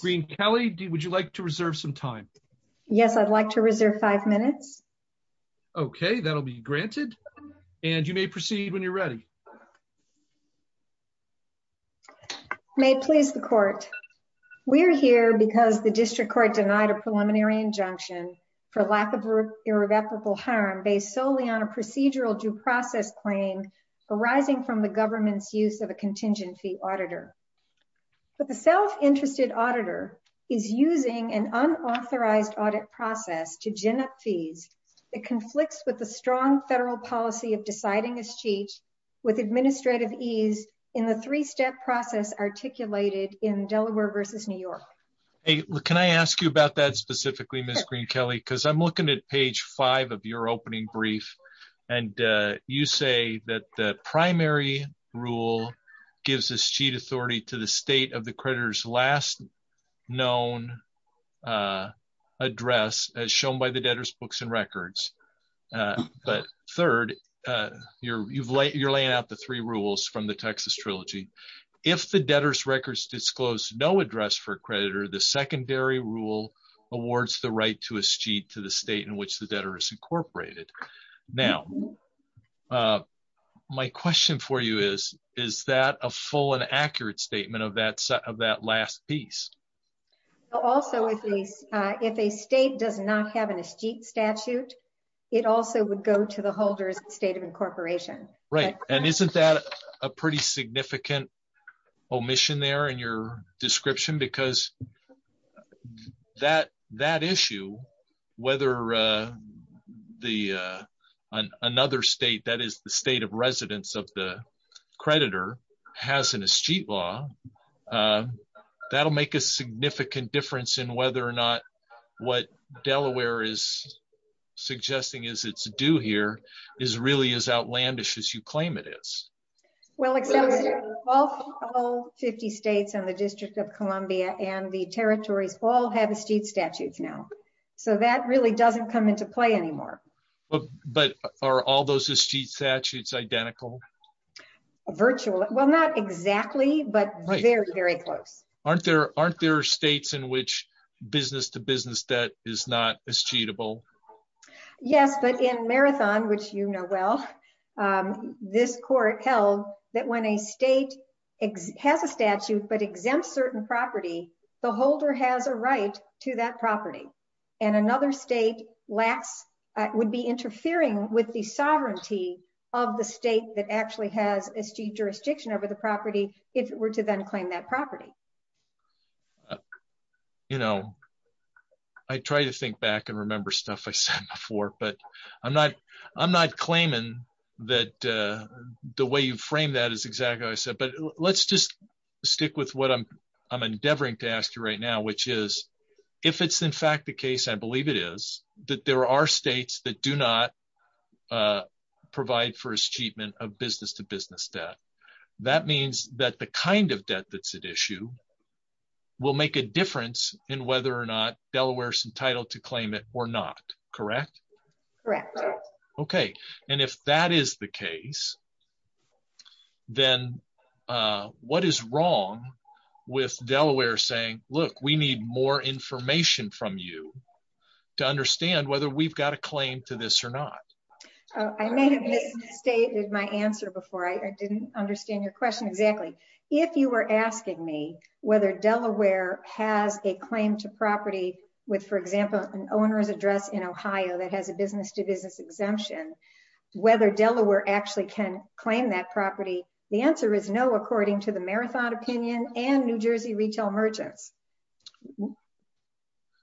Green Kelly. Would you like to reserve some time? Yes, I'd like to reserve five minutes. Okay, that'll be granted. And you may proceed when you're ready. May please the court. We're here because the district court denied a preliminary injunction for lack of irreversible harm based solely on a procedural due process claim arising from the is using an unauthorized audit process to gin up fees. It conflicts with the strong federal policy of deciding this cheat with administrative ease in the three step process articulated in Delaware versus New York. Hey, can I ask you about that specifically, Miss Green Kelly, because I'm looking at page five of your opening brief. And you say that the primary rule gives us cheat to the state of the creditors last known address as shown by the debtors books and records. But third, you're you've laid you're laying out the three rules from the Texas Trilogy. If the debtors records disclose no address for creditor, the secondary rule awards the right to a sheet to the state in which the debtor is incorporated. Now, my question for you is, is that a full and accurate statement of that set of that last piece? Also, if a state does not have an estate statute, it also would go to the holders state of incorporation, right? And isn't that a pretty significant omission there in your description? Because that that issue, whether the another state that is the state of residence of the creditor has an estate law, that'll make a significant difference in whether or not what Delaware is suggesting is it's due here is really as outlandish as you claim it is. Well, all 50 states and the District of Columbia and the territories all have estate statutes now. So that really doesn't come into play anymore. But are all those estate statutes identical? A virtual? Well, not exactly, but very, very close. Aren't there aren't there states in which business to business debt is not as cheatable? Yes, but in marathon, which you know, well, this court held that when a state has a statute, but exempt certain property, the holder has a right to that property. And another state lacks would be interfering with the sovereignty of the state that actually has a steep jurisdiction over the property, if it were to then claim that property. You know, I try to think back and remember stuff I said before, but I'm not, I'm not claiming that the way you frame that is exactly what I said. But let's just stick with what I'm, I'm endeavoring to ask you right now, which is, if it's in fact the case, I believe it is that there are states that do not provide for his treatment of business to business debt. That means that the kind of debt that's at issue will make a difference in whether or not Delaware's entitled to claim it or not, correct? Correct. Okay. And if that is the case, then what is wrong with Delaware saying, look, we need more information from you to understand whether we've got a claim to this or not? I may have misstated my answer before I didn't understand your question. Exactly. If you were a business to business exemption, whether Delaware actually can claim that property, the answer is no, according to the marathon opinion and New Jersey retail merchants.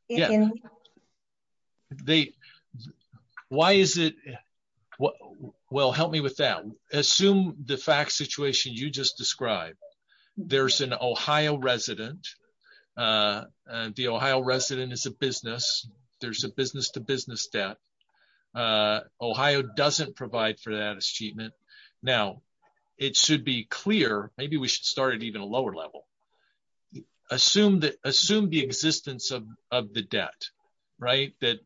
They, why is it? Well, help me with that. Assume the fact situation you just described, there's an Ohio resident. The Ohio resident is a business. There's a business to business debt. Ohio doesn't provide for that as treatment. Now it should be clear. Maybe we should start at even a lower level. Assume that assume the existence of, of the debt, right? That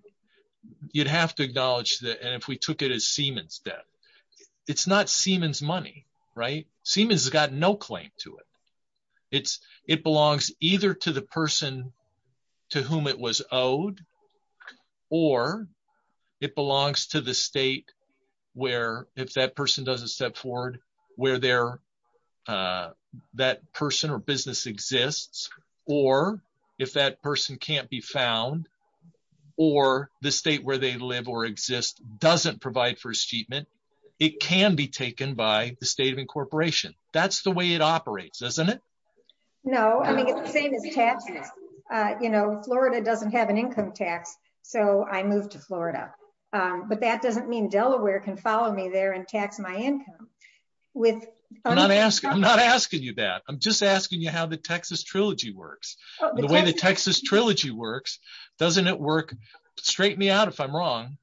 you'd have to acknowledge that. And if we took it as Siemens debt, it's not Siemens money, right? Siemens has got no claim to it. It's it belongs either to the person to whom it was owed, or it belongs to the state where if that person doesn't step forward where they're that person or business exists, or if that person can't be found or the state where they live or doesn't provide for a statement, it can be taken by the state of incorporation. That's the way it operates, doesn't it? No, I mean, it's the same as taxes. You know, Florida doesn't have an income tax. So I moved to Florida. But that doesn't mean Delaware can follow me there and tax my income with not asking. I'm not asking you that. I'm just asking you how the Texas trilogy works. The way the Texas trilogy works. Doesn't it work? Straighten me out if I'm wrong.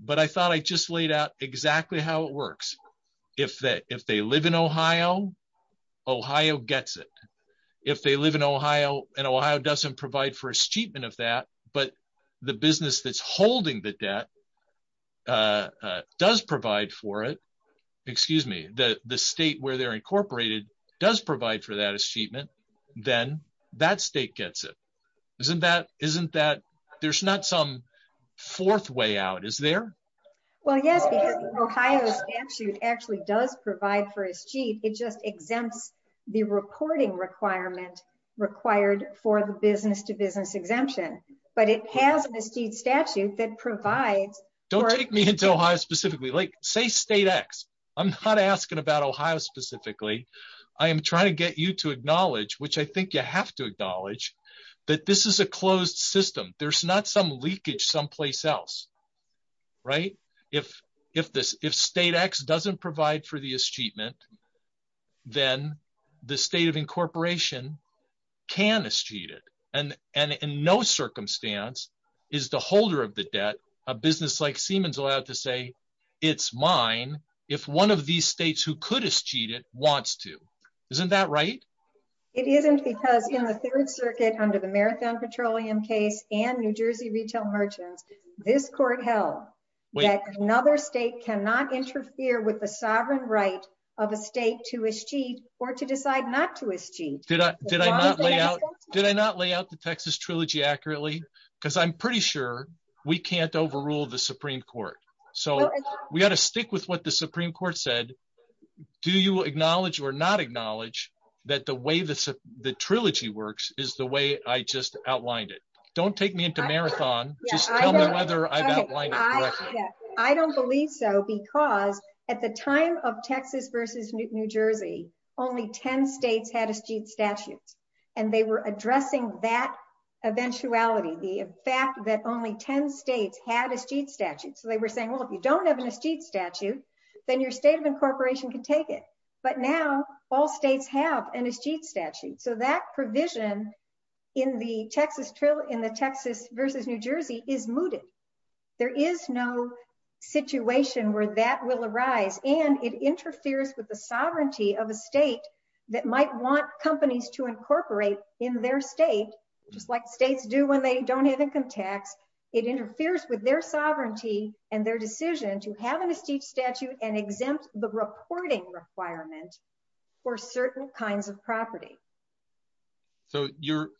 But I thought I just laid out exactly how it works. If that if they live in Ohio, Ohio gets it. If they live in Ohio, and Ohio doesn't provide for a statement of that, but the business that's holding the debt does provide for it. Excuse me, the the state where they're incorporated does provide for that statement, then that state gets it. Isn't that isn't that there's not some fourth way out? Is there? Well, yes, because Ohio statute actually does provide for his chief, it just exempts the reporting requirement required for the business to business exemption. But it has an esteemed statute that provides don't take me into Ohio specifically, like say state x, I'm not asking about Ohio specifically, I am trying to get you to acknowledge which I think you have to acknowledge that this is a closed system. There's not some leakage someplace else. Right? If if this if state x doesn't provide for the achievement, then the state of incorporation can eschew it. And and in no circumstance is the holder of the debt, a business like Siemens allowed to say, it's mine, if one of these states who could eschew it wants to, isn't that right? It isn't because in the Third Circuit under the Marathon Petroleum case, and New Jersey retail merchants, this court held that another state cannot interfere with the sovereign right of a state to eschew or to decide not to eschew. Did I did I did I not lay out the Texas trilogy accurately? Because I'm pretty sure we can't overrule the Supreme Court. So we got to stick with what the Supreme Court said. Do you acknowledge or not acknowledge that the way this the trilogy works is the way I just outlined it. Don't take me into marathon. I don't believe so. Because at the time of Texas versus New Jersey, only 10 states had eschewed statutes. And they were addressing that eventuality, the fact that only 10 states had eschewed statutes. So they were saying, well, if you don't have an eschewed statute, then your state of incorporation can take it. But now all states have an eschewed statute. So that provision in the Texas trial in the Texas versus New Jersey is mooted. There is no situation where that will arise. And it interferes with the sovereignty of a state that might want companies to incorporate in their state, just like states do when they don't have income tax. It interferes with their sovereignty and their decision to have an eschewed statute and exempt the reporting requirement for certain kinds of property. So you're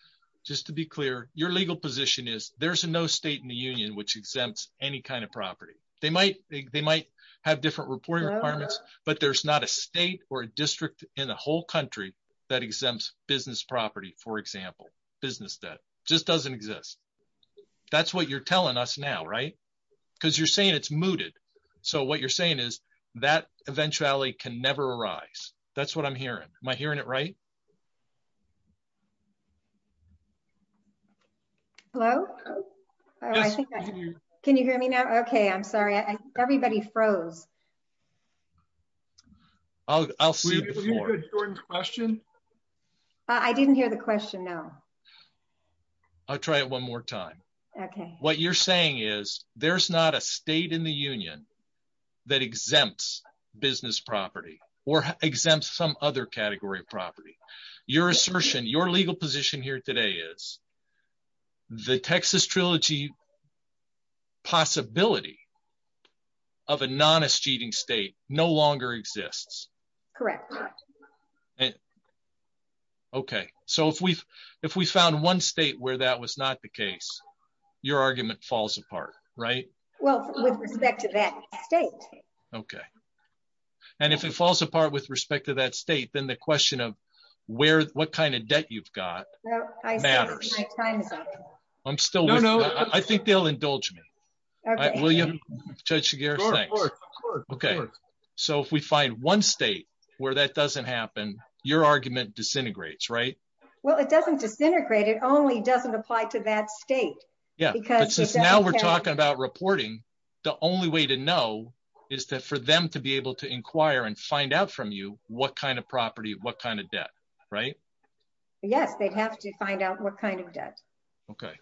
just to be clear, your legal position is there's no state in the union which exempts any kind of property. They might have different reporting requirements, but there's not a state or a district in a whole country that exempts business property, for example, business debt, just doesn't exist. That's what you're telling us now, right? Because you're saying it's mooted. So what you're saying is that eventuality can never arise. That's what I'm hearing. Am I hearing it right? Hello? Can you hear me now? Okay. I'm sorry. Everybody froze. I'll see. I didn't hear the question. No. I'll try it one more time. Okay. What you're saying is there's not a state in the union that exempts business property or exempts some other category of property. Your assertion, your legal position here today is the Texas Trilogy possibility of a non-eschewing state no longer exists. Correct. Okay. So if we found one state where that was not the case, your argument falls apart, right? Well, with respect to that state. Okay. And if it falls apart with respect to that state, then the question of what kind of debt you've got matters. I'm still with you. I think they'll indulge me. Okay. So if we find one state where that doesn't happen, your argument disintegrates, right? Well, it doesn't disintegrate. It only doesn't apply to that state. Now we're talking about reporting. The only way to know is for them to be able to inquire and find out from you what kind of property, what kind of debt, right? Yes. They'd have to find out what kind of debt. Okay.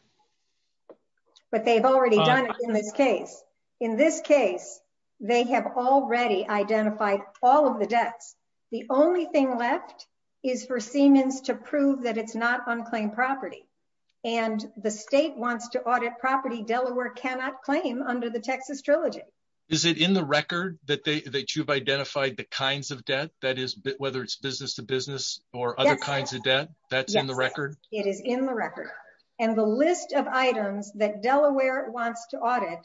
But they've already done it in this case. In this case, they have already identified all of the debts. The only thing left is for Siemens to prove that it's not unclaimed property. And the state wants to audit property Delaware cannot claim under the Texas Trilogy. Is it in the record that you've identified the kinds of debt that is, whether it's business to business or other kinds of debt, that's in the record? It is in the record. And the list of items that Delaware wants to audit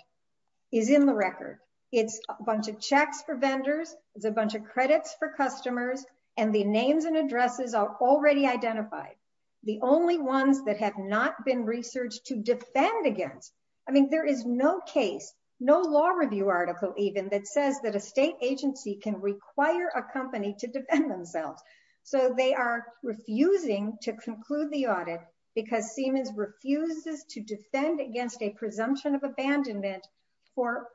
is in the record. It's a bunch of checks for vendors. It's a bunch of credits for customers. And the names and addresses are already identified. The only ones that have not been researched to defend against. I mean, there is no case, no law review article, even that says that a state agency can require a company to defend themselves. So they are refusing to conclude the audit because Siemens refuses to defend against a presumption of abandonment for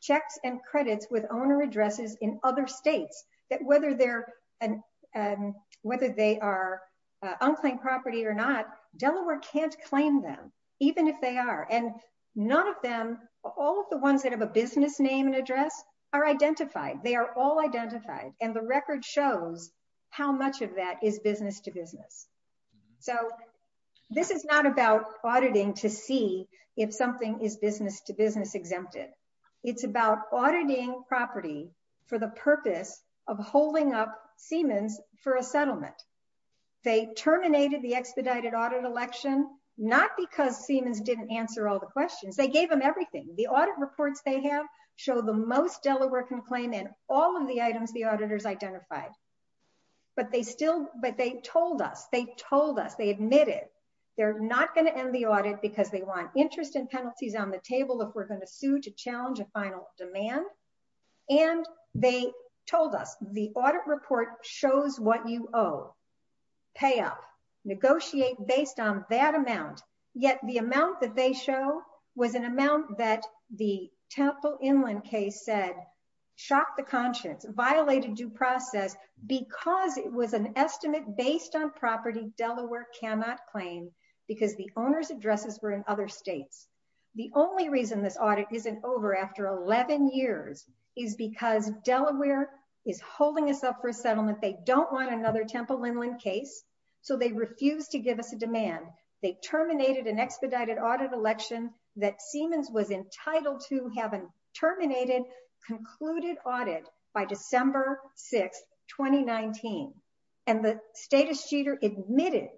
checks and credits with owner addresses in other states that whether they're an, whether they are unclaimed property or not, Delaware can't claim them, even if they are. And none of them, all of the ones that have a business name and address are identified. They are all identified. And the record shows how much of that is business to business. So this is not about auditing to see if something is business to business exempted. It's about auditing property for the purpose of holding up Siemens for a settlement. They terminated the expedited audit election, not because Siemens didn't answer all the questions. They gave them everything. The audit reports they have show the most Delaware can claim in all of the items the auditors identified. But they still, but they told us, they told us, they admitted they're not going to end the audit because they want interest and penalties on the table if we're going to sue to challenge a final demand. And they told us the audit report shows what you owe, pay up, negotiate based on that amount. Yet the amount that they show was an amount that the Temple Inland case said, shocked the conscience, violated due process, because it was an estimate based on property Delaware cannot claim because the owner's addresses were in other states. The only reason this audit isn't over after 11 years is because Delaware is holding us up for a settlement. They don't want another Temple Inland case. So they refuse to give us a demand. They terminated an expedited audit election that Siemens was entitled to having terminated, concluded audit by December 6, 2019. And the status cheater admitted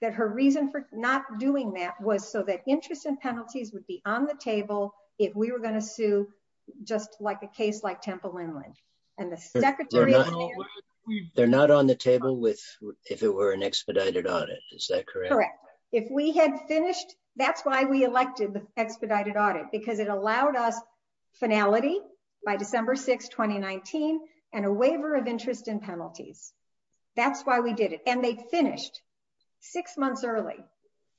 that her reason for not doing that was so that interest and penalties would be on the table if we were going to sue, just like a case like Temple Inland. And the secretary... They're not on the table with, if it were an expedited audit, is that correct? Correct. If we had finished, that's why we elected the expedited audit, because it allowed us by December 6, 2019, and a waiver of interest and penalties. That's why we did it. And they finished six months early.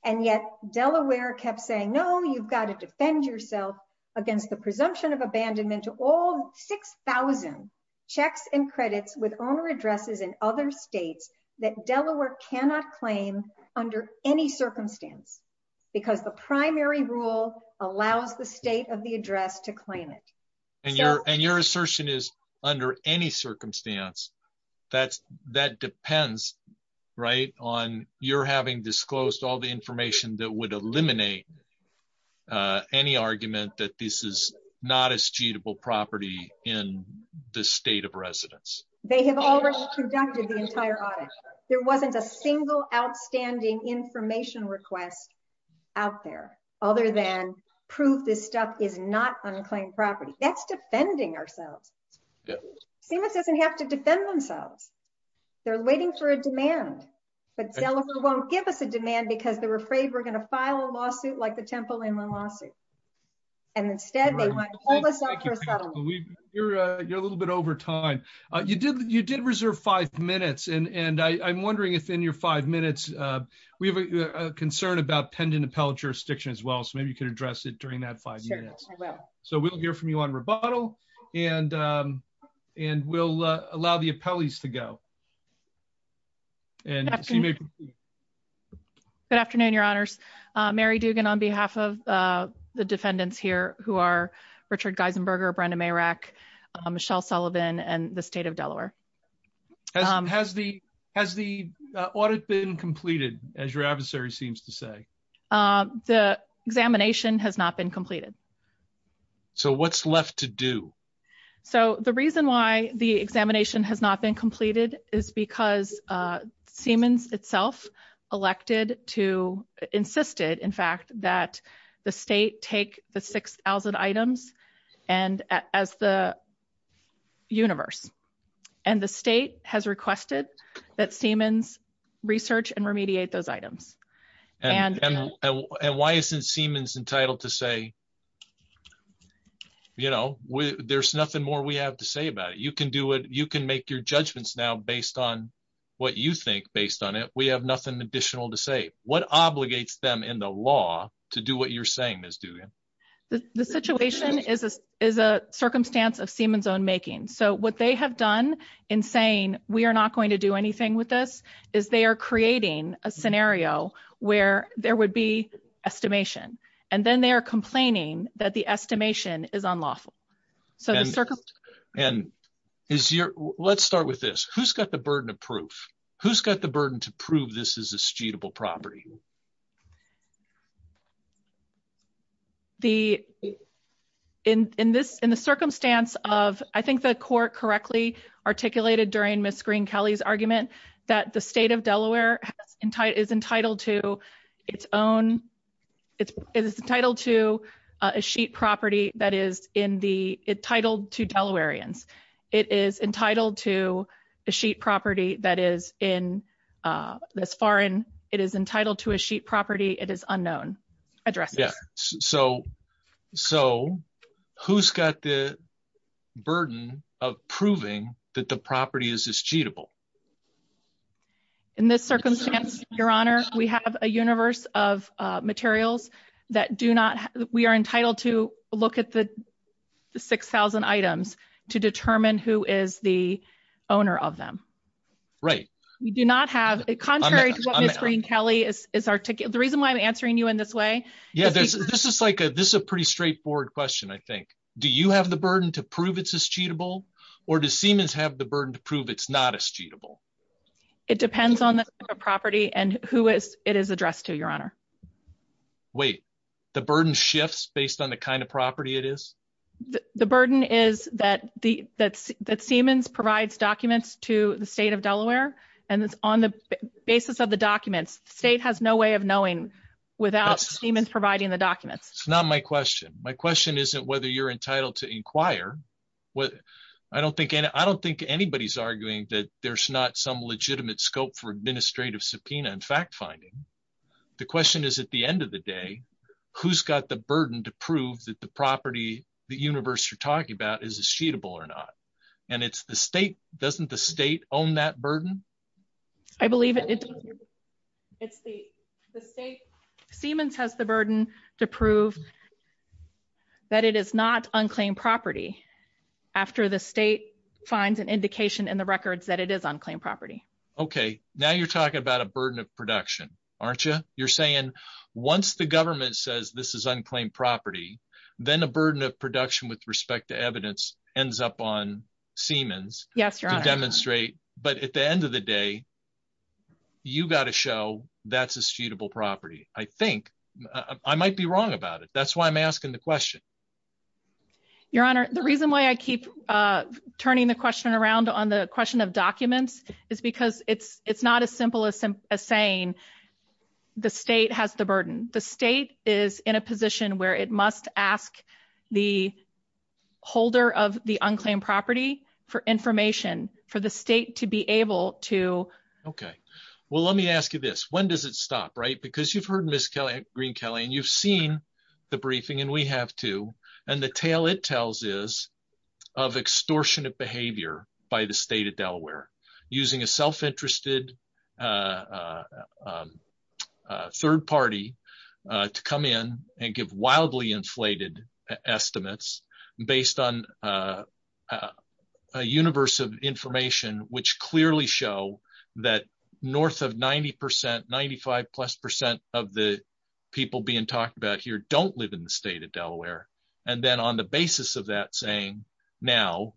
And yet Delaware kept saying, no, you've got to defend yourself against the presumption of abandonment to all 6,000 checks and credits with owner addresses in other states that Delaware cannot claim under any circumstance, because the primary rule allows the state of the address to claim it. And your assertion is under any circumstance, that depends on your having disclosed all the information that would eliminate any argument that this is not a suitable property in the state of residence. They have already conducted the entire audit. There wasn't a single outstanding information request out there, other than prove this stuff is not unclaimed property. That's defending ourselves. Seamus doesn't have to defend themselves. They're waiting for a demand. But Delaware won't give us a demand because they're afraid we're going to file a lawsuit like the Temple Inland lawsuit. And instead, they want to hold us up for settlement. You're a little bit over time. You did reserve five minutes. And I'm wondering if in your five minutes, we have a concern about pending appellate jurisdiction as well. So maybe you can address it during that five minutes. So we'll hear from you on rebuttal. And, and we'll allow the appellees to go. Good afternoon, Your Honors. Mary Dugan on behalf of the defendants here who are Richard Audit been completed, as your adversary seems to say, the examination has not been completed. So what's left to do? So the reason why the examination has not been completed is because Siemens itself elected to insisted, in fact, that the state take the 6000 items, and as the universe, and the state has requested that Siemens research and remediate those items. And why isn't Siemens entitled to say, you know, we there's nothing more we have to say about it, you can do it, you can make your judgments now based on what you think based on it, we have nothing additional to say what obligates them in the law to do what you're saying is doing. The situation is, is a circumstance of they have done in saying, we are not going to do anything with this is they are creating a scenario where there would be estimation, and then they are complaining that the estimation is unlawful. And is your let's start with this, who's got the burden of proof? Who's got the burden to prove this is a suitable property? The in this in the circumstance of I think the court correctly articulated during Miss Green-Kelly's argument that the state of Delaware is entitled to its own, it's entitled to a sheet property that is in the title to Delawareans, it is entitled to a sheet property that is in this foreign, it is entitled to a sheet property, it is unknown address. Yeah. So, so who's got the burden of proving that the property is is cheatable? In this circumstance, Your Honor, we have a universe of materials that do not, we are entitled to look at the 6,000 items to determine who is the owner of them. Right. We do not have a contrary to what Miss Green-Kelly is, is our ticket. The reason why I'm answering you in this way. Yeah, there's, this is like a, this is a pretty straightforward question. I think, do you have the burden to prove it's as cheatable? Or does Siemens have the burden to prove it's not as cheatable? It depends on the property and who is it is addressed to Your Honor. Wait, the burden shifts based on the kind of property it is? The burden is that the, that's, that Siemens provides documents to the state of Delaware, and it's on the basis of the documents. The state has no way of knowing without Siemens providing the documents. It's not my question. My question isn't whether you're entitled to inquire. What I don't think any, I don't think anybody's arguing that there's not some legitimate scope for administrative subpoena and fact-finding. The question is, at the end of the day, who's got the burden to prove that the property the universe you're talking about is as cheatable or not? And it's the state, doesn't the state own that burden? I believe it's the state. Siemens has the burden to prove that it is not unclaimed property after the state finds an indication in the records that it is unclaimed property. Okay. Now you're talking about a burden of production, aren't you? You're saying once the government says this is unclaimed property, then a burden of production with respect to evidence ends up on Siemens to demonstrate. But at the end of the day, you got to show that's a suitable property. I think I might be wrong about it. That's why I'm asking the question. Your Honor, the reason why I keep turning the question around on the question of documents is because it's not as simple as saying the state has the burden. The state is in a position where it must ask the holder of the unclaimed property for information for the state to be able to... Okay. Well, let me ask you this. When does it stop, right? Because you've heard Ms. Green-Kelley, and you've seen the briefing, and we have too, and the tale it tells is of extortionate behavior by the state of Delaware using a self-interested third party to come in and give wildly inflated estimates based on a universe of information, which clearly show that north of 90%, 95 plus percent of the people being talked about here don't live in the state of Delaware. And then on the basis of that saying, now,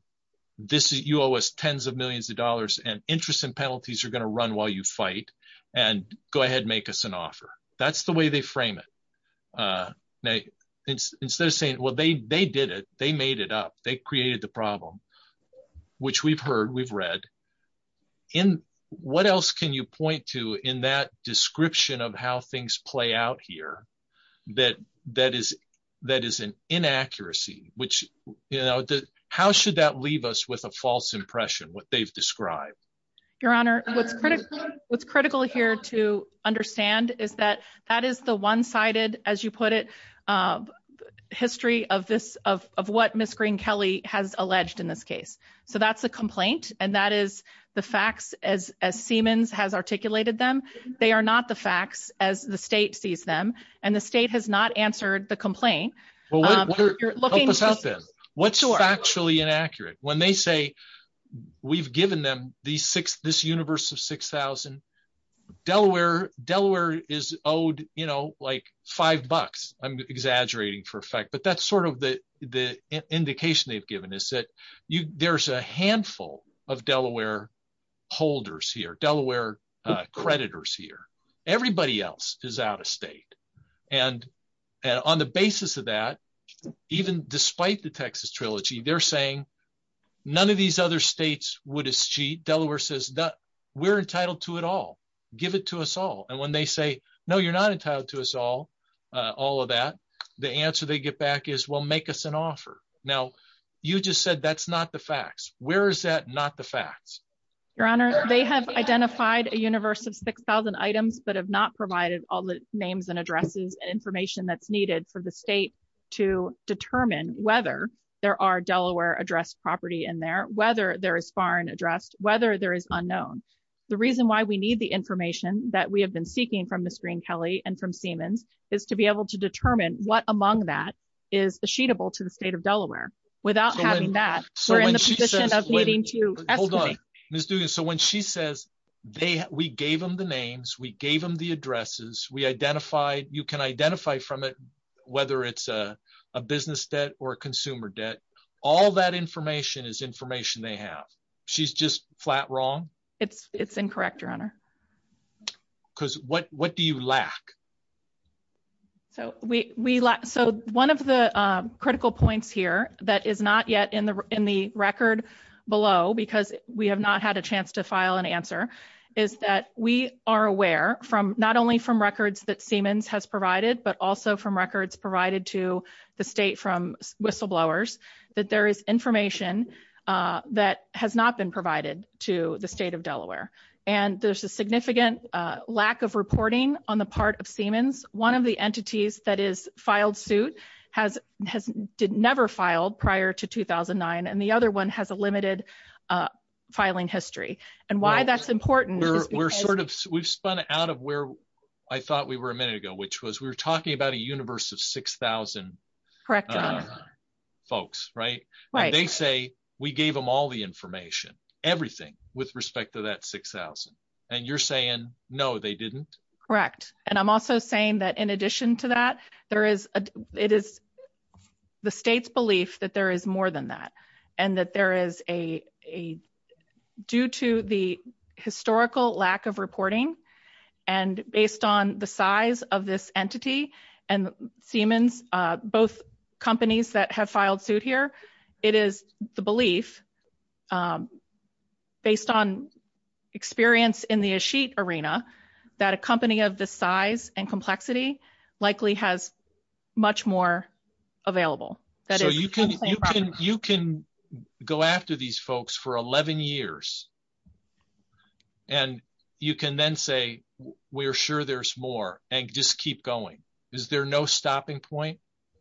you owe us tens of millions of dollars and interest and penalties are going to run while you fight, and go ahead and make us an offer. That's the way they frame it. Instead of saying, well, they did it. They made it up. They created the problem, which we've heard, we've read. What else can you point to in that description of how things play out here that is an inaccuracy? How should that leave us with a false impression, what they've described? Your Honor, what's critical here to understand is that that is the one-sided, as you put it, history of what Ms. Green-Kelley has alleged in this case. So that's the complaint, and that is the facts as Siemens has articulated them. They are not the facts as the state sees them, and the state has not answered the complaint. Well, help us out then. What's factually inaccurate? When they say we've given them this universe of 6,000, Delaware is owed like five bucks. I'm exaggerating for a fact, but that's sort of the indication they've given us that there's a handful of Delaware holders here, Delaware creditors here. Everybody else is out of state. On the basis of that, even despite the Texas Trilogy, they're saying none of these other states would cheat. Delaware says we're entitled to it all. Give it to us all. When they say, no, you're not entitled to us all, all of that, the answer they get back is, well, make us an offer. Now, you just said that's not facts. Where is that not the facts? Your Honor, they have identified a universe of 6,000 items, but have not provided all the names and addresses and information that's needed for the state to determine whether there are Delaware addressed property in there, whether there is foreign addressed, whether there is unknown. The reason why we need the information that we have been seeking from Ms. Green-Kelley and from Siemens is to be able to determine what among that is the sheetable to the state of Delaware. Without having that, we're in the position of needing to escalate. Hold on, Ms. Dugan, so when she says we gave them the names, we gave them the addresses, we identified, you can identify from it whether it's a business debt or a consumer debt, all that information is information they have. She's just flat wrong? It's incorrect, Your Honor. Because what do you lack? One of the critical points here that is not yet in the record below, because we have not had a chance to file an answer, is that we are aware, not only from records that Siemens has provided, but also from records provided to the state from whistleblowers, that there is information that has not been provided to the state of Delaware. And there's a significant lack of reporting on the part of Siemens. One of the entities that is filed suit has never filed prior to 2009, and the other one has a limited filing history. And why that's important is because We're sort of, we've spun out of where I thought we were a minute ago, which was we were talking about a universe of 6,000 folks, right? Right. They say, we gave them all the information, everything with respect to that 6,000. And you're saying, no, they didn't? Correct. And I'm also saying that in addition to that, it is the state's belief that there is more than that. And that there is a, due to the historical lack of reporting, and based on the entity, and Siemens, both companies that have filed suit here, it is the belief, based on experience in the Asheet arena, that a company of this size and complexity likely has much more available. So you can go after these folks for 11 years, and you can then say, we're sure there's more, and just keep going. Is there no stopping point?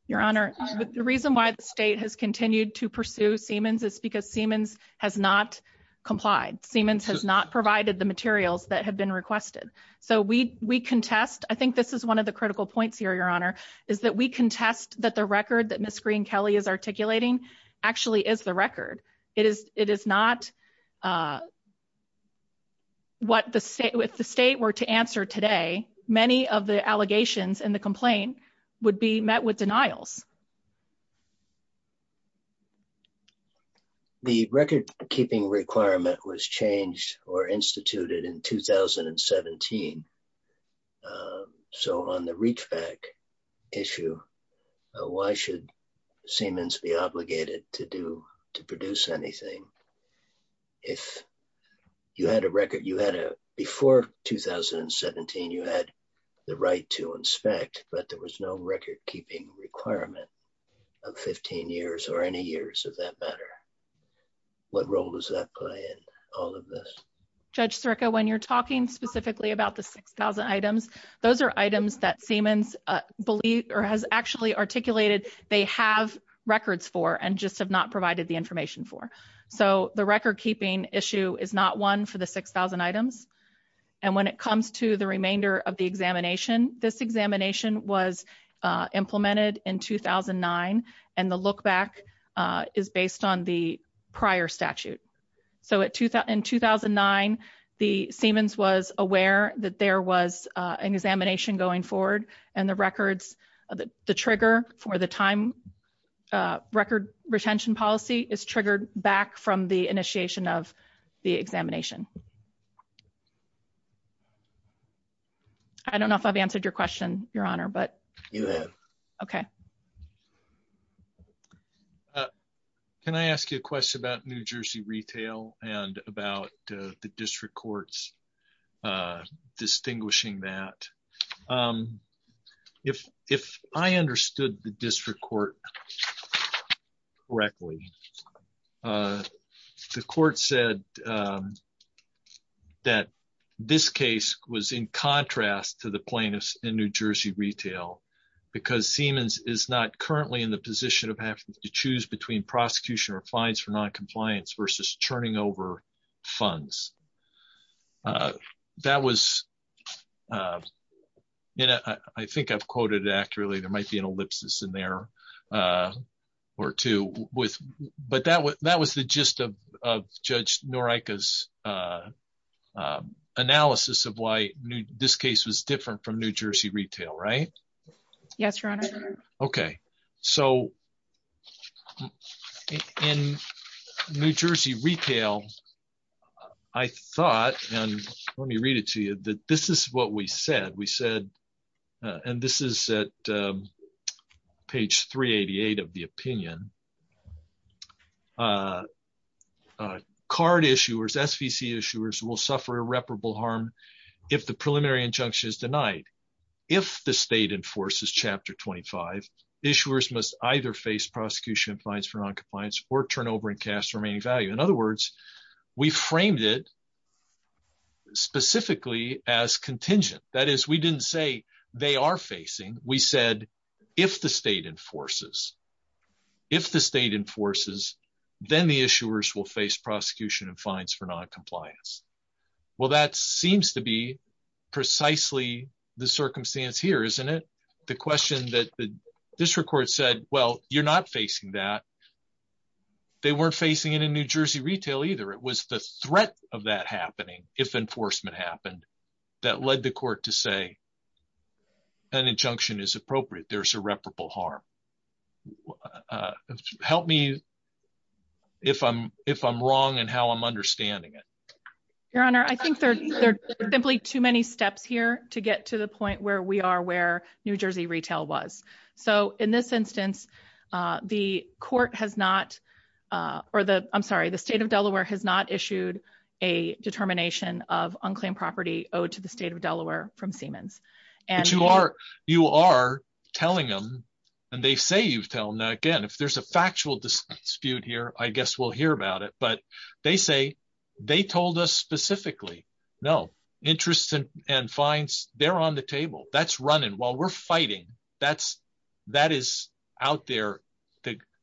Your Honor, the reason why the state has continued to pursue Siemens is because Siemens has not complied. Siemens has not provided the materials that have been requested. So we contest, I think this is one of the critical points here, Your Honor, is that we contest that the record that Ms. Green-Kelly is articulating actually is the record. It is not what the state, if the state were to answer today, many of the allegations in the complaint would be met with denials. The record keeping requirement was changed or instituted in 2017. So on the reachback issue, why should Siemens be obligated to do, to produce anything if you had a record, you had a, before 2017, you had the right to inspect, but there was no record keeping requirement of 15 years or any years of that matter. What role does that play in all of this? Judge Sirica, when you're talking specifically about the 6,000 items, those are items that Siemens has actually articulated they have records for and just have not provided the information for. So the record keeping issue is not one for the 6,000 items. And when it comes to the remainder of the examination, this examination was Siemens was aware that there was an examination going forward and the records, the trigger for the time record retention policy is triggered back from the initiation of the examination. I don't know if I've answered your question, Your Honor, but okay. Can I ask you a question about New Jersey retail and about the district courts distinguishing that? If I understood the district court correctly, the court said that this case was in contrast to the plaintiffs in New Jersey retail, because Siemens is not currently in the position of having to choose between prosecution or fines for noncompliance versus churning over funds. That was, you know, I think I've quoted accurately, there might be an ellipsis in there or two, but that was the gist of Judge Norica's analysis of why this case was different from New Jersey retail, right? Yes, Your Honor. Okay. So in New Jersey retail, I thought, and let me read it to you, that this is what we said. We said, and this is at page 388 of the opinion, card issuers, SVC issuers will suffer irreparable harm if the preliminary injunction is denied. If the state enforces chapter 25, issuers must either face prosecution and fines for noncompliance or turnover and cast remaining value. In other words, we framed it specifically as contingent. That is, we didn't say they are facing, we said, if the state enforces, if the state enforces, then the issuers will face prosecution and fines for noncompliance. Well, that seems to be precisely the circumstance here, isn't it? The question that the district court said, well, you're not facing that. They weren't facing it in New Jersey retail either. It was the threat of that happening, if enforcement happened, that led the court to say an injunction is appropriate. There's irreparable harm. Help me if I'm wrong and how I'm understanding it. Your Honor, I think there are simply too many steps here to get to the point where we are, where New Jersey retail was. So in this instance, the court has not, or the, I'm sorry, the state of Delaware has not issued a determination of unclaimed property owed to the state of Delaware from Siemens. But you are, you are telling them, and they say you've told them, again, if there's a factual dispute here, I guess we'll hear about it. But they say they told us specifically, no, interests and fines, they're on the table. That's running while we're fighting. That's, that is out there.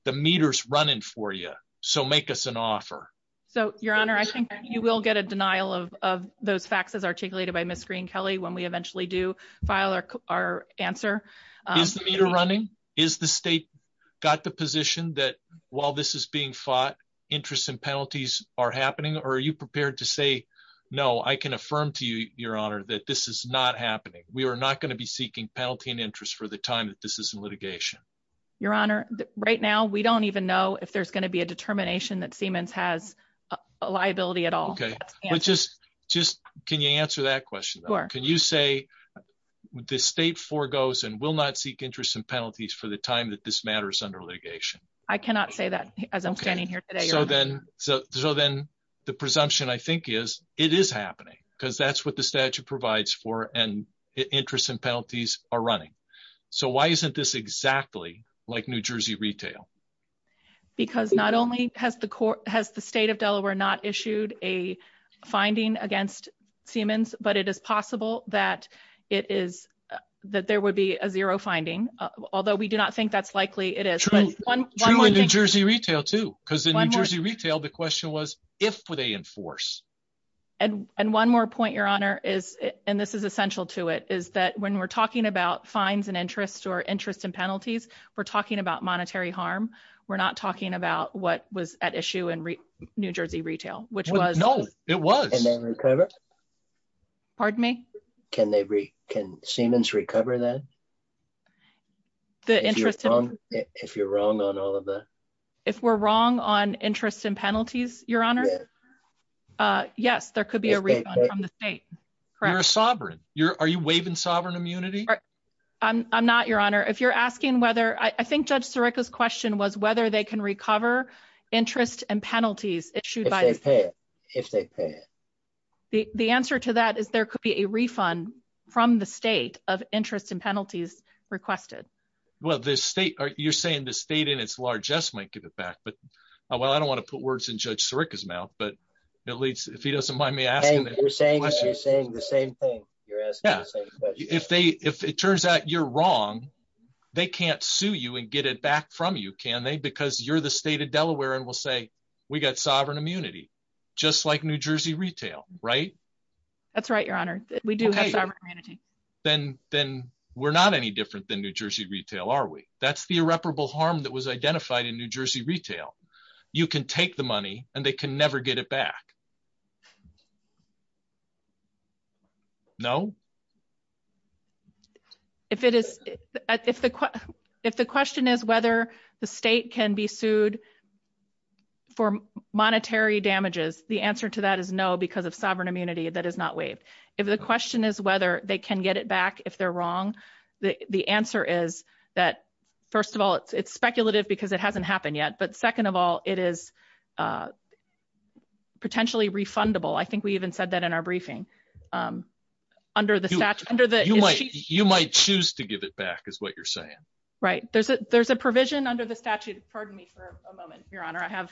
The meter's running for you. So make us an offer. So Your Honor, I think you will get a denial of those faxes articulated by Ms. Green-Kelley when we eventually do file our answer. Is the meter running? Is the state got the position that while this is being fought, interests and penalties are happening? Or are you prepared to say, no, I can affirm to you, Your Honor, that this is not happening. We are not going to be seeking penalty and interest for the time that this is in litigation. Your Honor, right now, we don't even know if there's going to be a determination that Siemens has a liability at all. Okay. But just, just, can you answer that question? Can you say the state forgoes and will not seek interest in penalties for the time that this matters under litigation? I cannot say that as I'm standing here today. So then, so then the presumption I think is it is happening because that's what the statute provides for and interest and penalties are running. So why isn't this exactly like New Jersey retail? Because not only has the court, has the state of Delaware not issued a finding against Siemens, but it is possible that it is, that there would be a zero finding, although we do not think that's likely it is. True in New Jersey retail too, because in New Jersey retail, the question was, if would they enforce? And one more point, Your Honor, is, and this is essential to it, is that when we're talking about fines and interest or interest and penalties, we're talking about monetary harm. We're not talking about what was at issue in New Jersey retail, which was. And then recover. Pardon me? Can they, can Siemens recover that? The interest, if you're wrong on all of that. If we're wrong on interest and penalties, Your Honor. Yes, there could be a refund from the state. Correct. You're a sovereign. Are you waiving sovereign immunity? I'm not, Your Honor. If you're asking whether I think Judge Sirica's question was whether they can recover interest and penalties issued by the state. If they pay it. The answer to that is there could be a refund from the state of interest and penalties requested. Well, the state, you're saying the state in its largesse might give it back, but well, I don't want to put words in Judge Sirica's mouth, but at least if he doesn't mind me asking. You're saying the same thing. You're asking the same question. If they, if it turns out you're wrong, they can't sue you and get it back from you, can they? Because you're the state of Delaware and we'll say we got sovereign immunity, just like New Jersey retail, right? That's right, Your Honor. We do. Then we're not any different than New Jersey retail, are we? That's the irreparable harm that was identified in New Jersey retail. You can take the money and they can never get it back. No. If it is, if the question is whether the state can be sued for monetary damages, the answer to that is no, because of sovereign immunity that is not waived. If the question is whether they can get it back, if they're wrong, the answer is that, first of all, it's speculative because it hasn't happened yet. But second of all, it is potentially refundable. I think we even said that in our briefing. You might choose to give it back, is what you're saying. Right. There's a provision under the statute. Pardon me for a moment, Your Honor. I have...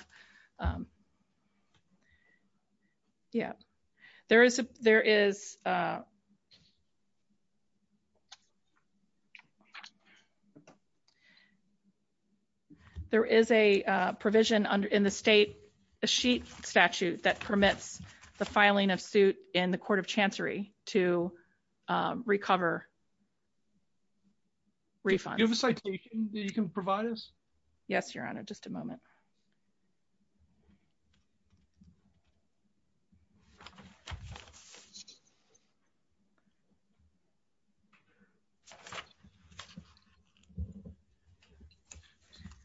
There is a provision in the state, a sheet statute that permits the filing of suit in the Court of Chancery to recover refunds. Do you have a citation that you can provide us? Yes, Your Honor. Just a moment.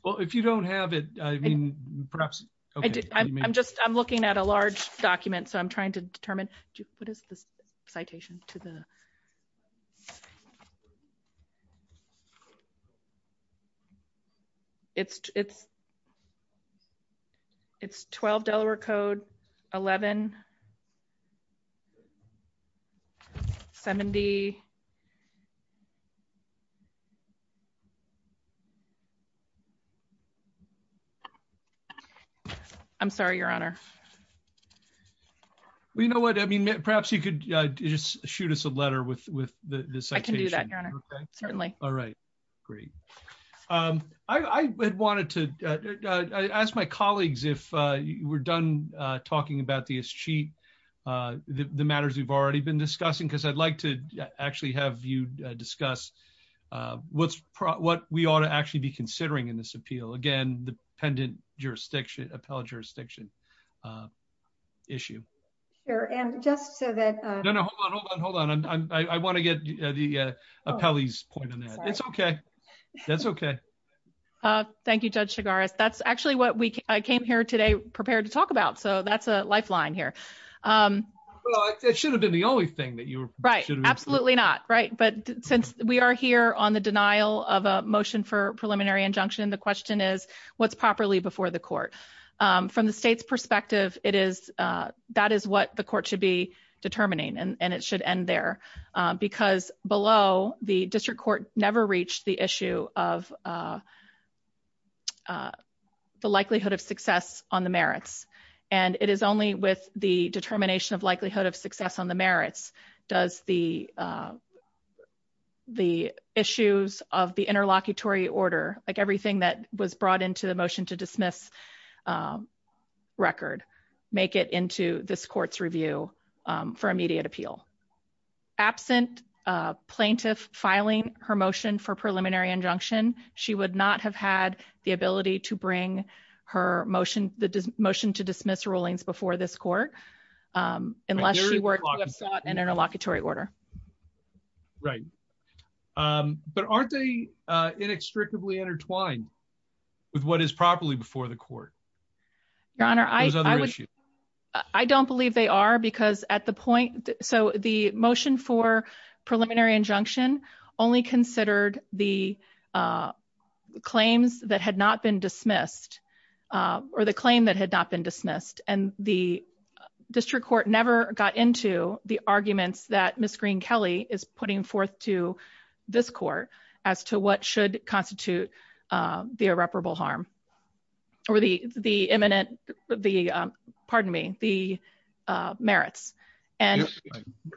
Well, if you don't have it, I mean, perhaps... I'm just, I'm looking at a large document, so I'm trying to determine... What is this citation to the... It's 12 Delaware Code 1170... I'm sorry, Your Honor. Well, you know what? I mean, perhaps you could just shoot us a letter with the citation. I can do that, Your Honor. Certainly. All right. Great. I had wanted to ask my colleagues, if you were done talking about this sheet, the matters we've already been discussing, because I'd like to actually have you discuss what we ought to actually be considering in this appeal. Again, the pendent jurisdiction, appellate jurisdiction issue. Sure. And just so that... No, no. Hold on. Hold on. Hold on. I want to get the appellee's point on that. It's okay. That's okay. Thank you, Judge Chigaris. That's actually what we came here today prepared to talk about, so that's a lifeline here. Well, it should have been the only thing that you were... Right. Absolutely not, right? But since we are here on the denial of a motion for from the state's perspective, that is what the court should be determining, and it should end there, because below, the district court never reached the issue of the likelihood of success on the merits. And it is only with the determination of likelihood of success on the merits does the issues of the interlocutory order, like everything that was brought into the motion to record, make it into this court's review for immediate appeal. Absent plaintiff filing her motion for preliminary injunction, she would not have had the ability to bring the motion to dismiss rulings before this court unless she were to have sought an interlocutory order. Right. But aren't they inextricably intertwined with what is properly before the court? Your Honor, I don't believe they are, because at the point... So the motion for preliminary injunction only considered the claims that had not been dismissed, or the claim that had not been dismissed, and the district court never got into the arguments that Ms. Green-Kelley is putting forth to this court as to what should constitute the irreparable harm, or the imminent... Pardon me, the merits. And...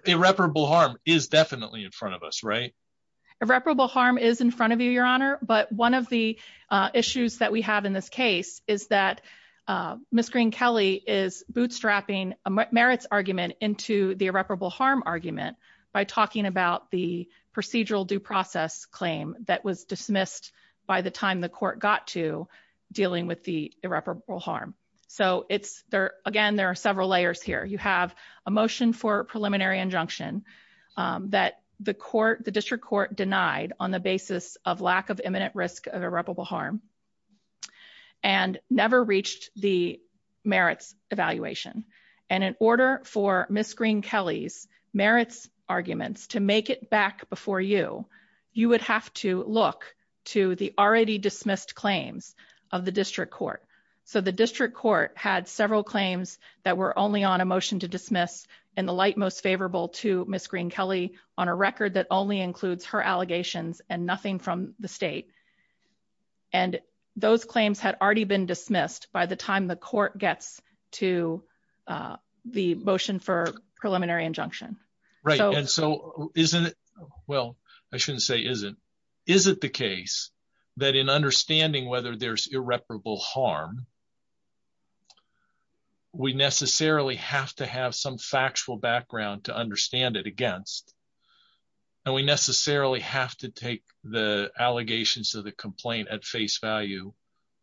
Irreparable harm is definitely in front of us, right? Irreparable harm is in front of you, Your Honor, but one of the issues that we have in this case is that Ms. Green-Kelley is bootstrapping a merits argument into the irreparable harm argument by talking about the procedural due process claim that was dismissed by the time the court got to dealing with the irreparable harm. So it's... Again, there are several layers here. You have a motion for preliminary injunction that the district court denied on the basis of lack of imminent risk of irreparable harm, and never reached the merits evaluation. And in order for Ms. Green-Kelley's arguments to make it back before you, you would have to look to the already dismissed claims of the district court. So the district court had several claims that were only on a motion to dismiss in the light most favorable to Ms. Green-Kelley on a record that only includes her allegations and nothing from the state. And those claims had already been dismissed by the time the court gets to the motion for preliminary injunction. Right. And so isn't it... Well, I shouldn't say isn't. Is it the case that in understanding whether there's irreparable harm, we necessarily have to have some factual background to understand it against, and we necessarily have to take the allegations of the complaint at face value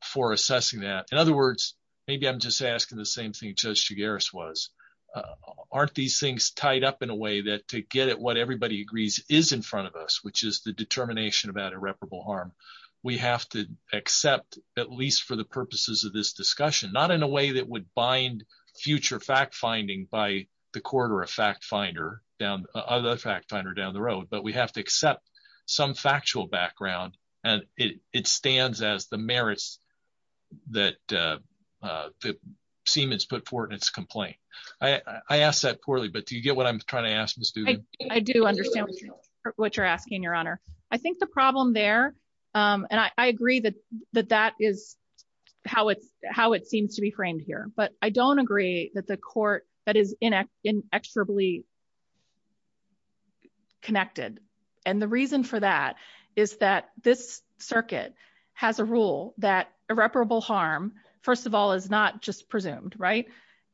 for assessing that. In other words, maybe I'm just asking the same thing Judge Chigares was. Aren't these things tied up in a way that to get at what everybody agrees is in front of us, which is the determination about irreparable harm, we have to accept at least for the purposes of this discussion, not in a way that would bind future fact-finding by the court or a fact-finder down... Other fact-finder down the road, but we have to accept some factual background. And it stands as the merits that Siemens put forth in its complaint. I asked that poorly, but do you get what I'm trying to ask Ms. Duden? I do understand what you're asking, Your Honor. I think the problem there, and I agree that that is how it seems to be framed here, but I don't agree that the court... That is inexorably connected. And the reason for that is that this circuit has a rule that irreparable harm, first of all, is not just presumed.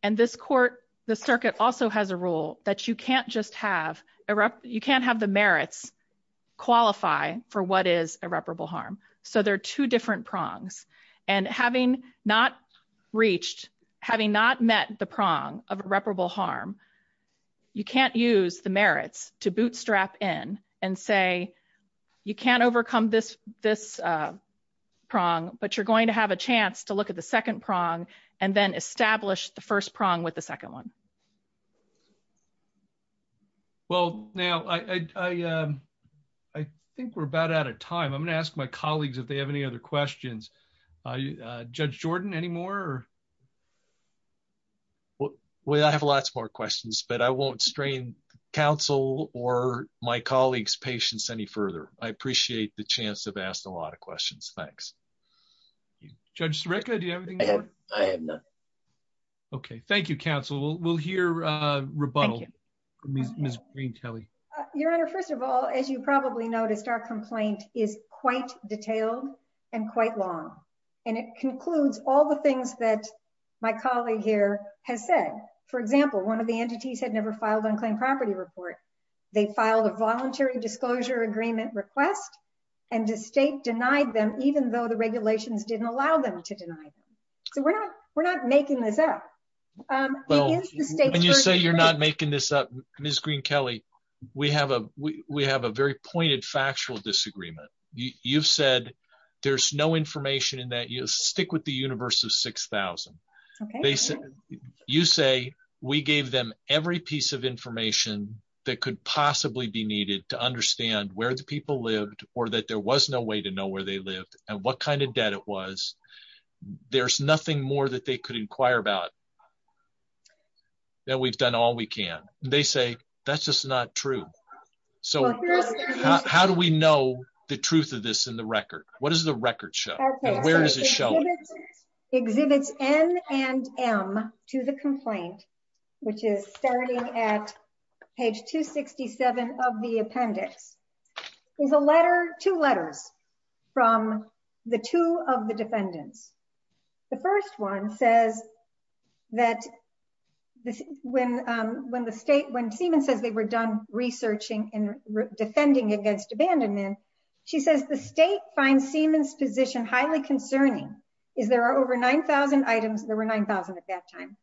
And this court, the circuit also has a rule that you can't just have... You can't have the merits qualify for what is irreparable harm. So there are two different prongs. And having not reached, having not met the prong of irreparable harm, you can't use the merits to bootstrap in and say, you can't overcome this prong, but you're going to have a chance to look at the second prong and then establish the first prong with the second one. Well, now I think we're about out of time. I'm going to ask my colleagues if they have any other questions. Judge Jordan, any more? Well, I have lots more questions, but I won't counsel or my colleagues' patience any further. I appreciate the chance to have asked a lot of questions. Thanks. Judge Sirica, do you have anything more? I have nothing. Okay. Thank you, counsel. We'll hear a rebuttal from Ms. Greentele. Your Honor, first of all, as you probably noticed, our complaint is quite detailed and quite long, and it concludes all the things that my colleague here has said. For example, one of the entities had never filed an unclaimed property report. They filed a voluntary disclosure agreement request, and the state denied them, even though the regulations didn't allow them to deny them. So we're not making this up. When you say you're not making this up, Ms. Greentele, we have a very pointed factual disagreement. You've said there's no information in that. Stick with the universe of 6,000. You say we gave them every piece of information that could possibly be needed to understand where the people lived or that there was no way to know where they lived and what kind of debt it was. There's nothing more that they could inquire about than we've done all we can. They say that's just not true. So how do we know the truth of this in the record? What does the record show? Where does it show? Exhibits N and M to the complaint, which is starting at page 267 of the appendix, is two letters from the two of the defendants. The first one says that when Seamans says they were done researching and defending against abandonment, she says the state finds Seamans's position highly concerning, is there are over 9,000 items, there were 9,000 at that time,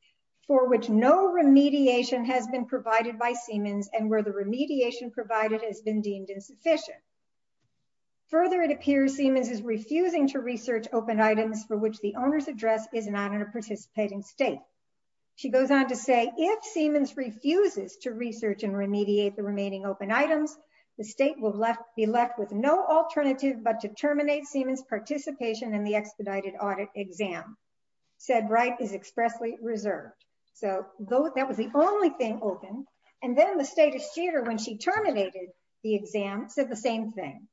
for which no remediation has been provided by Seamans and where the remediation provided has been deemed insufficient. Further, it appears Seamans is refusing to research open items for which the owner's address is not in a participating state. She goes on to say if Seamans refuses to research and remediate the remaining open items, the state will be left with no alternative but to terminate Seamans's participation in the expedited audit exam. Said right is expressly reserved. So that was the only thing open. And then the state of theater when she terminated the exam said the same thing.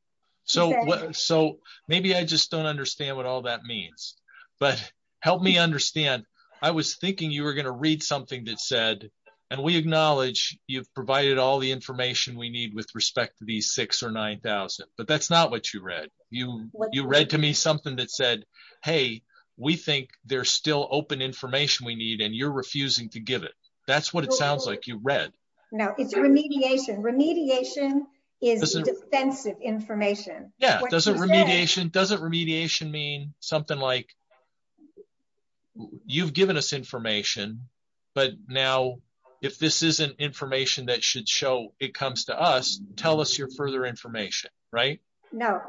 So maybe I just don't understand what all that means. But help me understand. I was thinking you were going to read something that said, and we acknowledge you've provided all the information we need with respect to these six or 9,000. But that's not what you read. You read to me something that said, hey, we think there's still open information we need and you're refusing to give that's what it sounds like you read. Now it's remediation. Remediation is defensive information. Yeah, doesn't remediation doesn't remediation mean something like you've given us information. But now, if this isn't information that should show it comes to us, tell us your further information, right? No,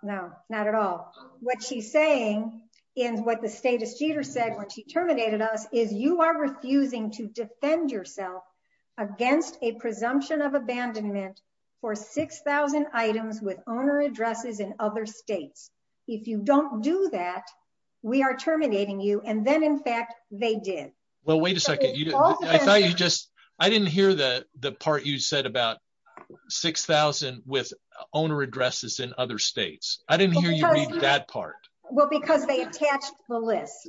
no, not at all. What she's saying is what the status cheater said when she to defend yourself against a presumption of abandonment for 6,000 items with owner addresses in other states. If you don't do that, we are terminating you. And then in fact, they did. Well, wait a second. I thought you just I didn't hear the part you said about 6,000 with owner addresses in other states. I didn't hear you read that part. Well, because they attached the list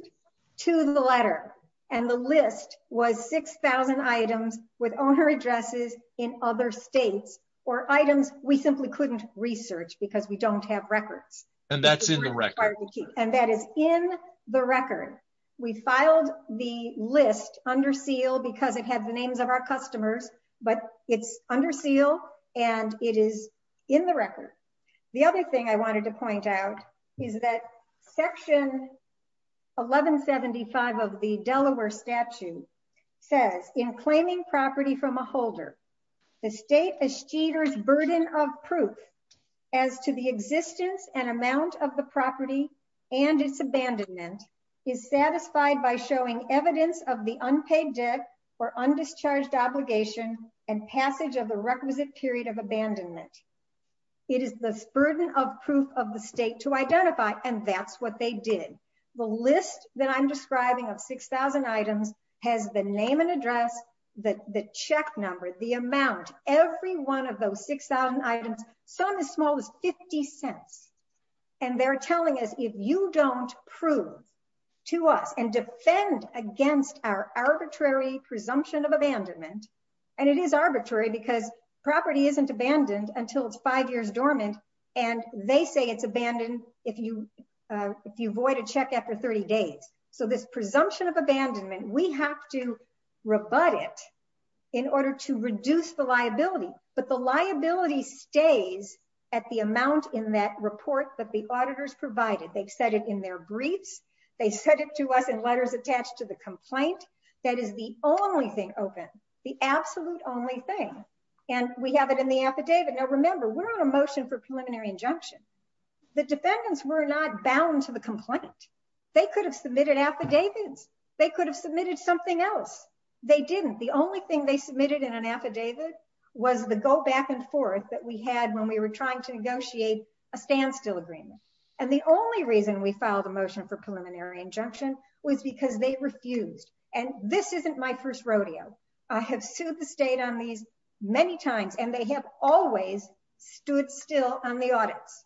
to the letter. And the list was 6,000 items with owner addresses in other states or items we simply couldn't research because we don't have records. And that's in the record. And that is in the record. We filed the list under seal because it has the names of our customers. But it's under seal and it is in the record. The other thing I section 1175 of the Delaware statute says in claiming property from a holder, the state is cheaters burden of proof as to the existence and amount of the property and its abandonment is satisfied by showing evidence of the unpaid debt or undischarged obligation and passage of the requisite period of abandonment. It is the burden of proof of the state to identify and that's what they did. The list that I'm describing of 6,000 items has the name and address that the check number the amount every one of those 6,000 items, some as small as 50 cents. And they're telling us if you don't prove to us and defend against our arbitrary presumption of abandonment, and it is arbitrary because property isn't abandoned until it's five years dormant. And they say it's abandoned if you if you void a check after 30 days. So this presumption of abandonment, we have to rebut it in order to reduce the liability. But the liability stays at the amount in that report that the auditors provided. They've said it in their briefs. They said it to us in letters attached to the complaint. That is the only thing open the absolute only thing. And we have it in the affidavit. Now remember, we're on a motion for preliminary injunction. The defendants were not bound to the complaint. They could have submitted affidavits, they could have submitted something else. They didn't the only thing they submitted in an affidavit was the go back and forth that we had when we were trying to negotiate a standstill agreement. And the only reason we filed a motion for preliminary injunction was because they refused and this isn't my first rodeo. I have sued the state on these many times and they have always stood still on the audits.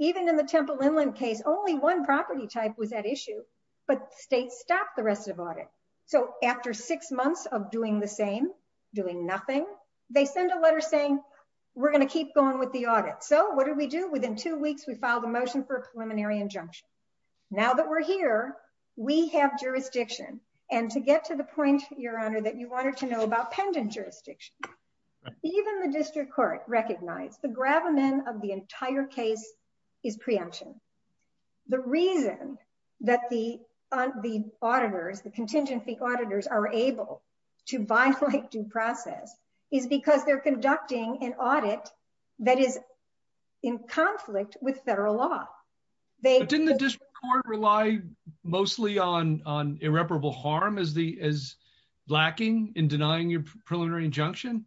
Even in the Temple Inland case, only one property type was at issue, but state stopped the rest of audit. So after six months of doing the same, doing nothing, they send a letter saying, we're going to keep going with the audit. So what do we do? Within two weeks, we filed a motion for preliminary injunction. Now that we're here, we have jurisdiction. And to get to the point, your honor, that you wanted to know about pendant jurisdiction, even the district court recognized the gravamen of the entire case is preemption. The reason that the on the auditors, the contingency auditors are able to violate due process is because they're conducting an audit that is in conflict with federal law. Didn't the district court rely mostly on irreparable harm as lacking in denying your preliminary injunction?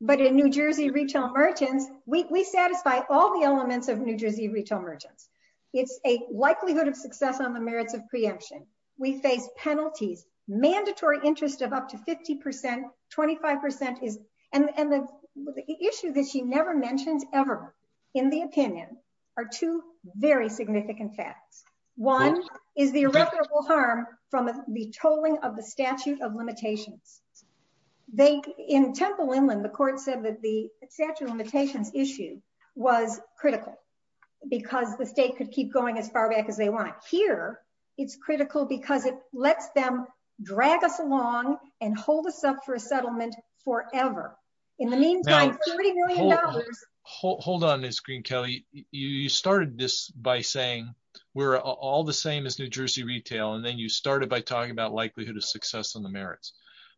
But in New Jersey Retail Merchants, we satisfy all the elements of New Jersey Retail Merchants. It's a likelihood of success on the merits of preemption. We face penalties, mandatory interest of up to 50%, 25% and the issue that she never mentions ever in the opinion are two very significant facts. One is the irreparable harm from the tolling of the statute of limitations. They in Temple Inland, the court said that the statute of limitations issue was critical because the state could keep going as far back as they want. Here, it's critical because it lets them drag us along and hold us up for a settlement forever. Now, hold on Ms. Green Kelly. You started this by saying we're all the same as New Jersey Retail and then you started by talking about likelihood of success on the merits.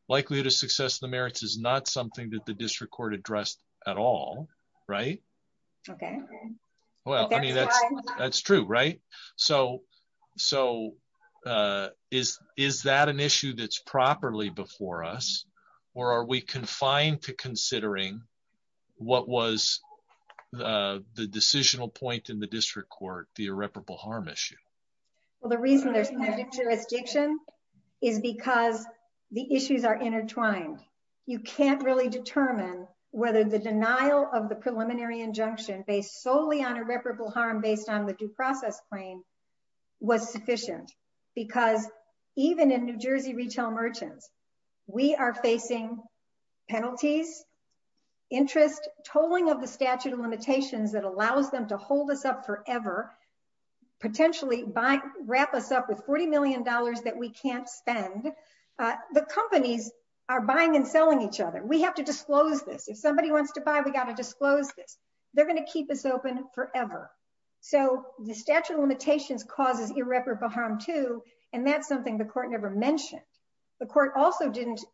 Likelihood of success in the merits is not something that the district court addressed at all, right? Okay. Well, that's true, right? So, is that an issue that's properly before us or are we confined to considering what was the decisional point in the district court, the irreparable harm issue? Well, the reason there's no jurisdiction is because the issues are intertwined. You can't really determine whether the denial of the preliminary injunction based solely on irreparable harm based on the due process claim was sufficient because even in New Jersey Retail Merchants, we are facing penalties, interest, tolling of the statute of limitations that allows them to hold us up forever, potentially wrap us up with 40 million dollars that we can't spend. The companies are buying and selling each other. We have to disclose this. If somebody wants to buy, we got to disclose this. They're going to keep us open forever. So, the statute of limitations causes irreparable harm too and that's something the court never mentioned. The court also didn't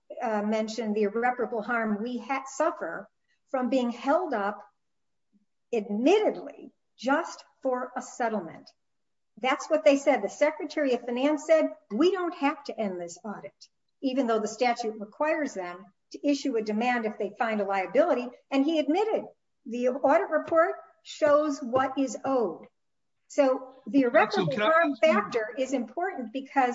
mention the irreparable harm we had suffer from being held up admittedly just for a settlement. That's what they said. The secretary of finance said, we don't have to end this audit even though the statute requires them to issue a demand if they find a liability and he admitted the audit report shows what is owed. So, the irreparable harm factor is important because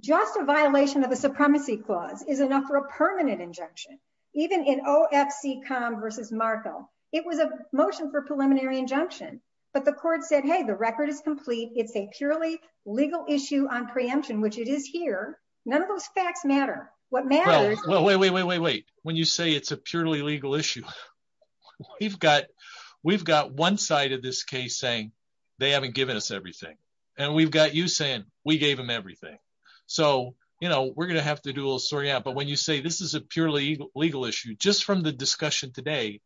just a violation of the supremacy clause is enough for a permanent injunction. Even in OFC Com versus Markel, it was a motion for preliminary injunction but the court said, hey, the record is complete. It's a purely legal issue on preemption which it is here. None of those facts matter. What matters- Well, wait, wait, wait, wait, wait. When you say it's a purely legal issue, we've got one side of this case saying they haven't given us everything and we've got you saying we gave them everything. So, we're going to have to do a little sorting out but when you say this is a purely legal issue, just from the discussion today,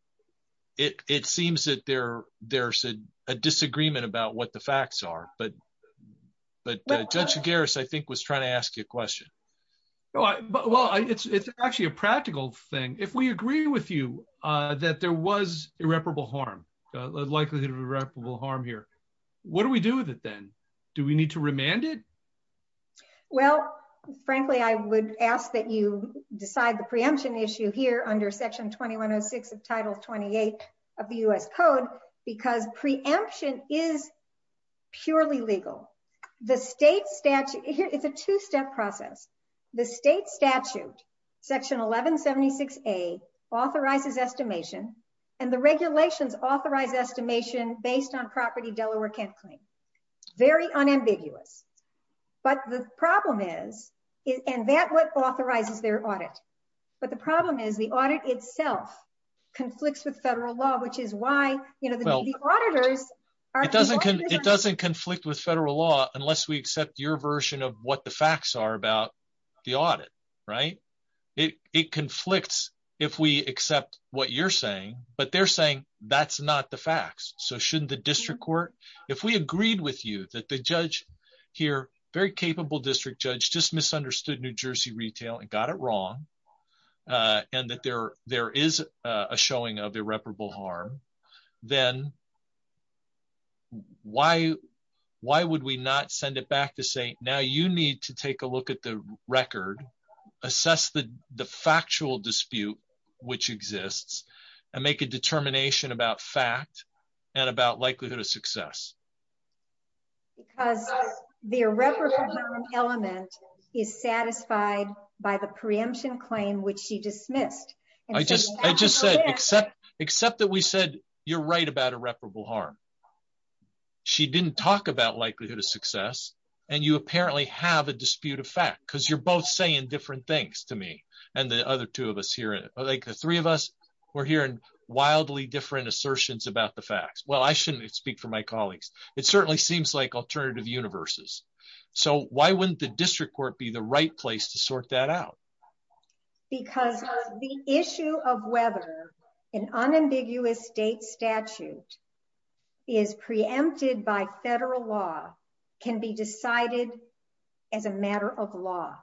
it seems that there's a disagreement about what the facts are but Judge Garris, I think, was trying to ask you a question. Well, it's actually a practical thing. If we agree with you that there was irreparable harm, likelihood of irreparable harm here, what do we do with it then? Do we need to remand it? Well, frankly, I would ask that you decide the preemption issue here under Section 2106 of Title 28 of the U.S. Code because preemption is purely legal. The state statute- It's a two-step process. The state statute, Section 1176A, authorizes estimation and the regulations authorize estimation based on property Delaware can't claim. Very unambiguous but the problem is, and that what authorizes their audit, but the problem is the audit itself conflicts with federal law which is why, you know, the auditors- It doesn't conflict with federal law unless we accept your version of what the facts are about the audit, right? It conflicts if we accept what you're saying but they're saying that's not the facts so shouldn't the district court- If we agreed with you that the judge here, very capable district judge, just misunderstood New Jersey retail and got it wrong and that there is a showing of irreparable harm, then why would we not send it back to say, now you need to take a look at the record, assess the factual dispute which exists and make a determination about fact and about likelihood of success? Because the irreparable element is satisfied by the preemption claim which she dismissed. I just said, except that we said you're right about irreparable harm. She didn't talk about likelihood of success and you apparently have a dispute of fact because you're both saying different things to me and the other two of us here, like the three of us, we're hearing wildly different assertions about the facts. Well, I shouldn't speak for my colleagues. It certainly seems like alternative universes so why wouldn't the district court be the right place to sort that out? Because the issue of whether an unambiguous state statute is preempted by federal law can be decided as a matter of law.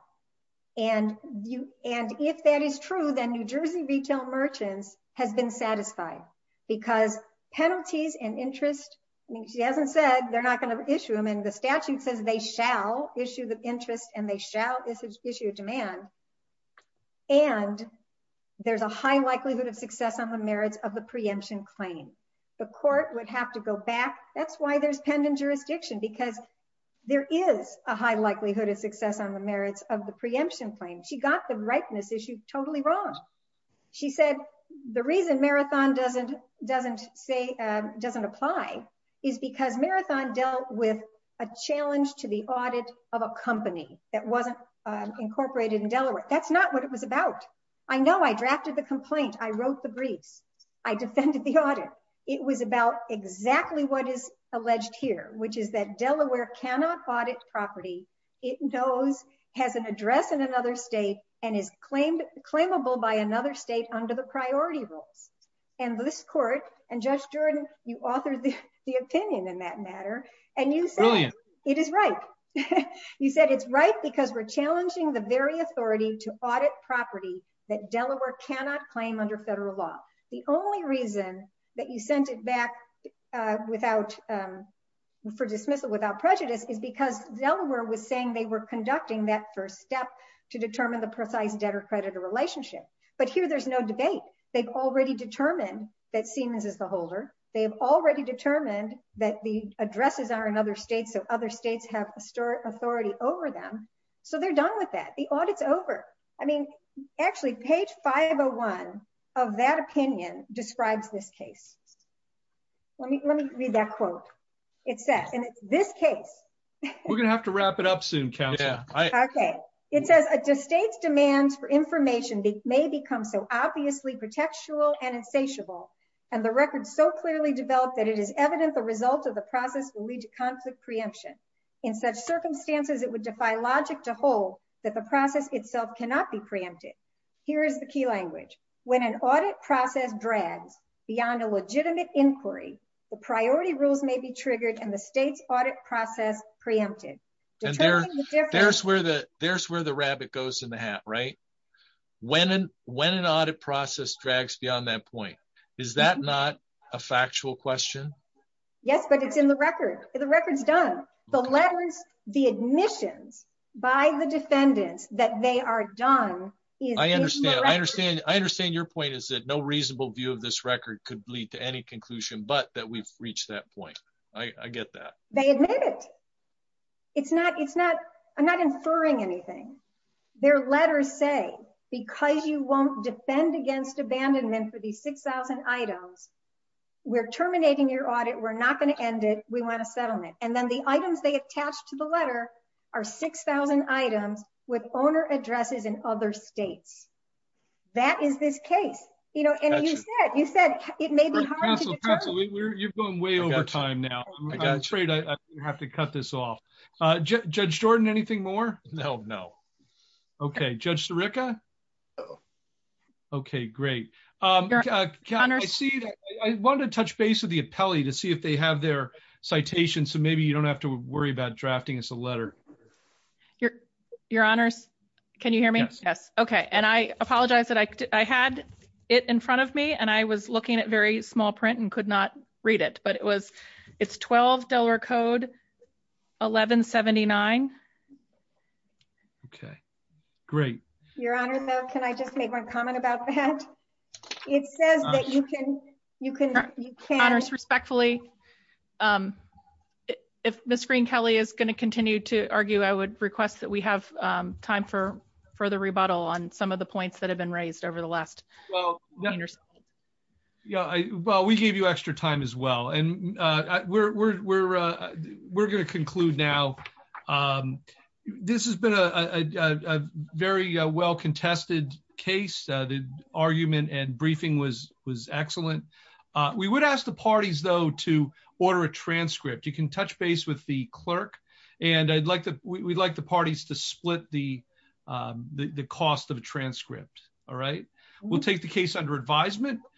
If that is true, then New Jersey retail merchants has been satisfied because penalties and interest, I mean she hasn't said they're not going to issue them and the statute says they shall issue the interest and they shall issue a demand and there's a high likelihood of success on the merits of the preemption claim. The court would have to go back, that's why there's pending jurisdiction because there is a high likelihood of success on the merits of the preemption claim. She got the rightness issue totally wrong. She said the reason Marathon doesn't apply is because Marathon dealt with a challenge to the audit of a company that wasn't incorporated in Delaware. That's not what it was about. I know I drafted the complaint, I wrote the briefs, I defended the audit. It was about exactly what is alleged here, which is that Delaware cannot audit property it knows has an address in another state and is claimed claimable by another state under the priority rules and this court and Judge Jordan, you authored the opinion in that matter and you said it is right. You said it's right because we're challenging the very authority to audit property that Delaware cannot claim under federal law. The only reason that you sent it back for dismissal without prejudice is because Delaware was saying they were conducting that first step to determine the precise debtor-creditor relationship but here there's no debate. They've already determined that Siemens is the holder. They've already determined that the addresses are in other states so other states have authority over them so they're done with that. The audit's over. I mean actually page 501 of that opinion describes this case. Let me read that quote. It says and it's this case. We're gonna have to wrap it up soon, counsel. Okay, it says a state's demands for information may become so obviously protectual and insatiable and the record so clearly developed that it is evident the result of the process will lead to conflict preemption. In such circumstances, it would defy logic to hold that the process itself cannot be preempted. Here is the key language. When an audit process drags beyond a legitimate inquiry, the priority rules may be triggered and the state's audit process preempted. There's where the rabbit goes in the hat, right? When an audit process drags beyond that point, is that not a factual question? Yes, but it's in the record. The record's done. The letters, the admissions by the defendants that they are done. I understand your point is that no reasonable view of this record could lead to any conclusion but that we've reached that point. I get that. They admit it. I'm not inferring anything. Their letters say because you won't defend against abandonment for these 6,000 items, we're terminating your audit. We're not going to end it. We want a settlement and then the items they attach to the letter are 6,000 items with owner addresses in other states. That is this case, you know, and you said it may be hard to determine. You've gone way over time now. I'm afraid I have to cut this off. Judge Jordan, anything more? No, no. Okay, Judge Sirica? Okay, great. I wanted to touch base with the appellee to see if they have their citation so maybe you don't have to worry about drafting us a letter. Your honors, can you hear me? Yes. Okay, and I apologize that I had it in front of me and I was looking at very small print and could not read it but it's $12 code 1179. Okay, great. Your honor, though, can I just make one comment about that? It says that you can you can honor us respectfully. If Ms. Green-Kelley is going to continue to argue, I would request that we have time for further rebuttal on some of the points that have been raised over the last well. Well, we gave you extra time as well and we're going to conclude now. This has been a very well contested case. The argument and briefing was excellent. We would ask the parties, though, to order a transcript. You can touch base with the clerk and I'd like the parties to split the cost of a transcript. We'll take the case under advisement.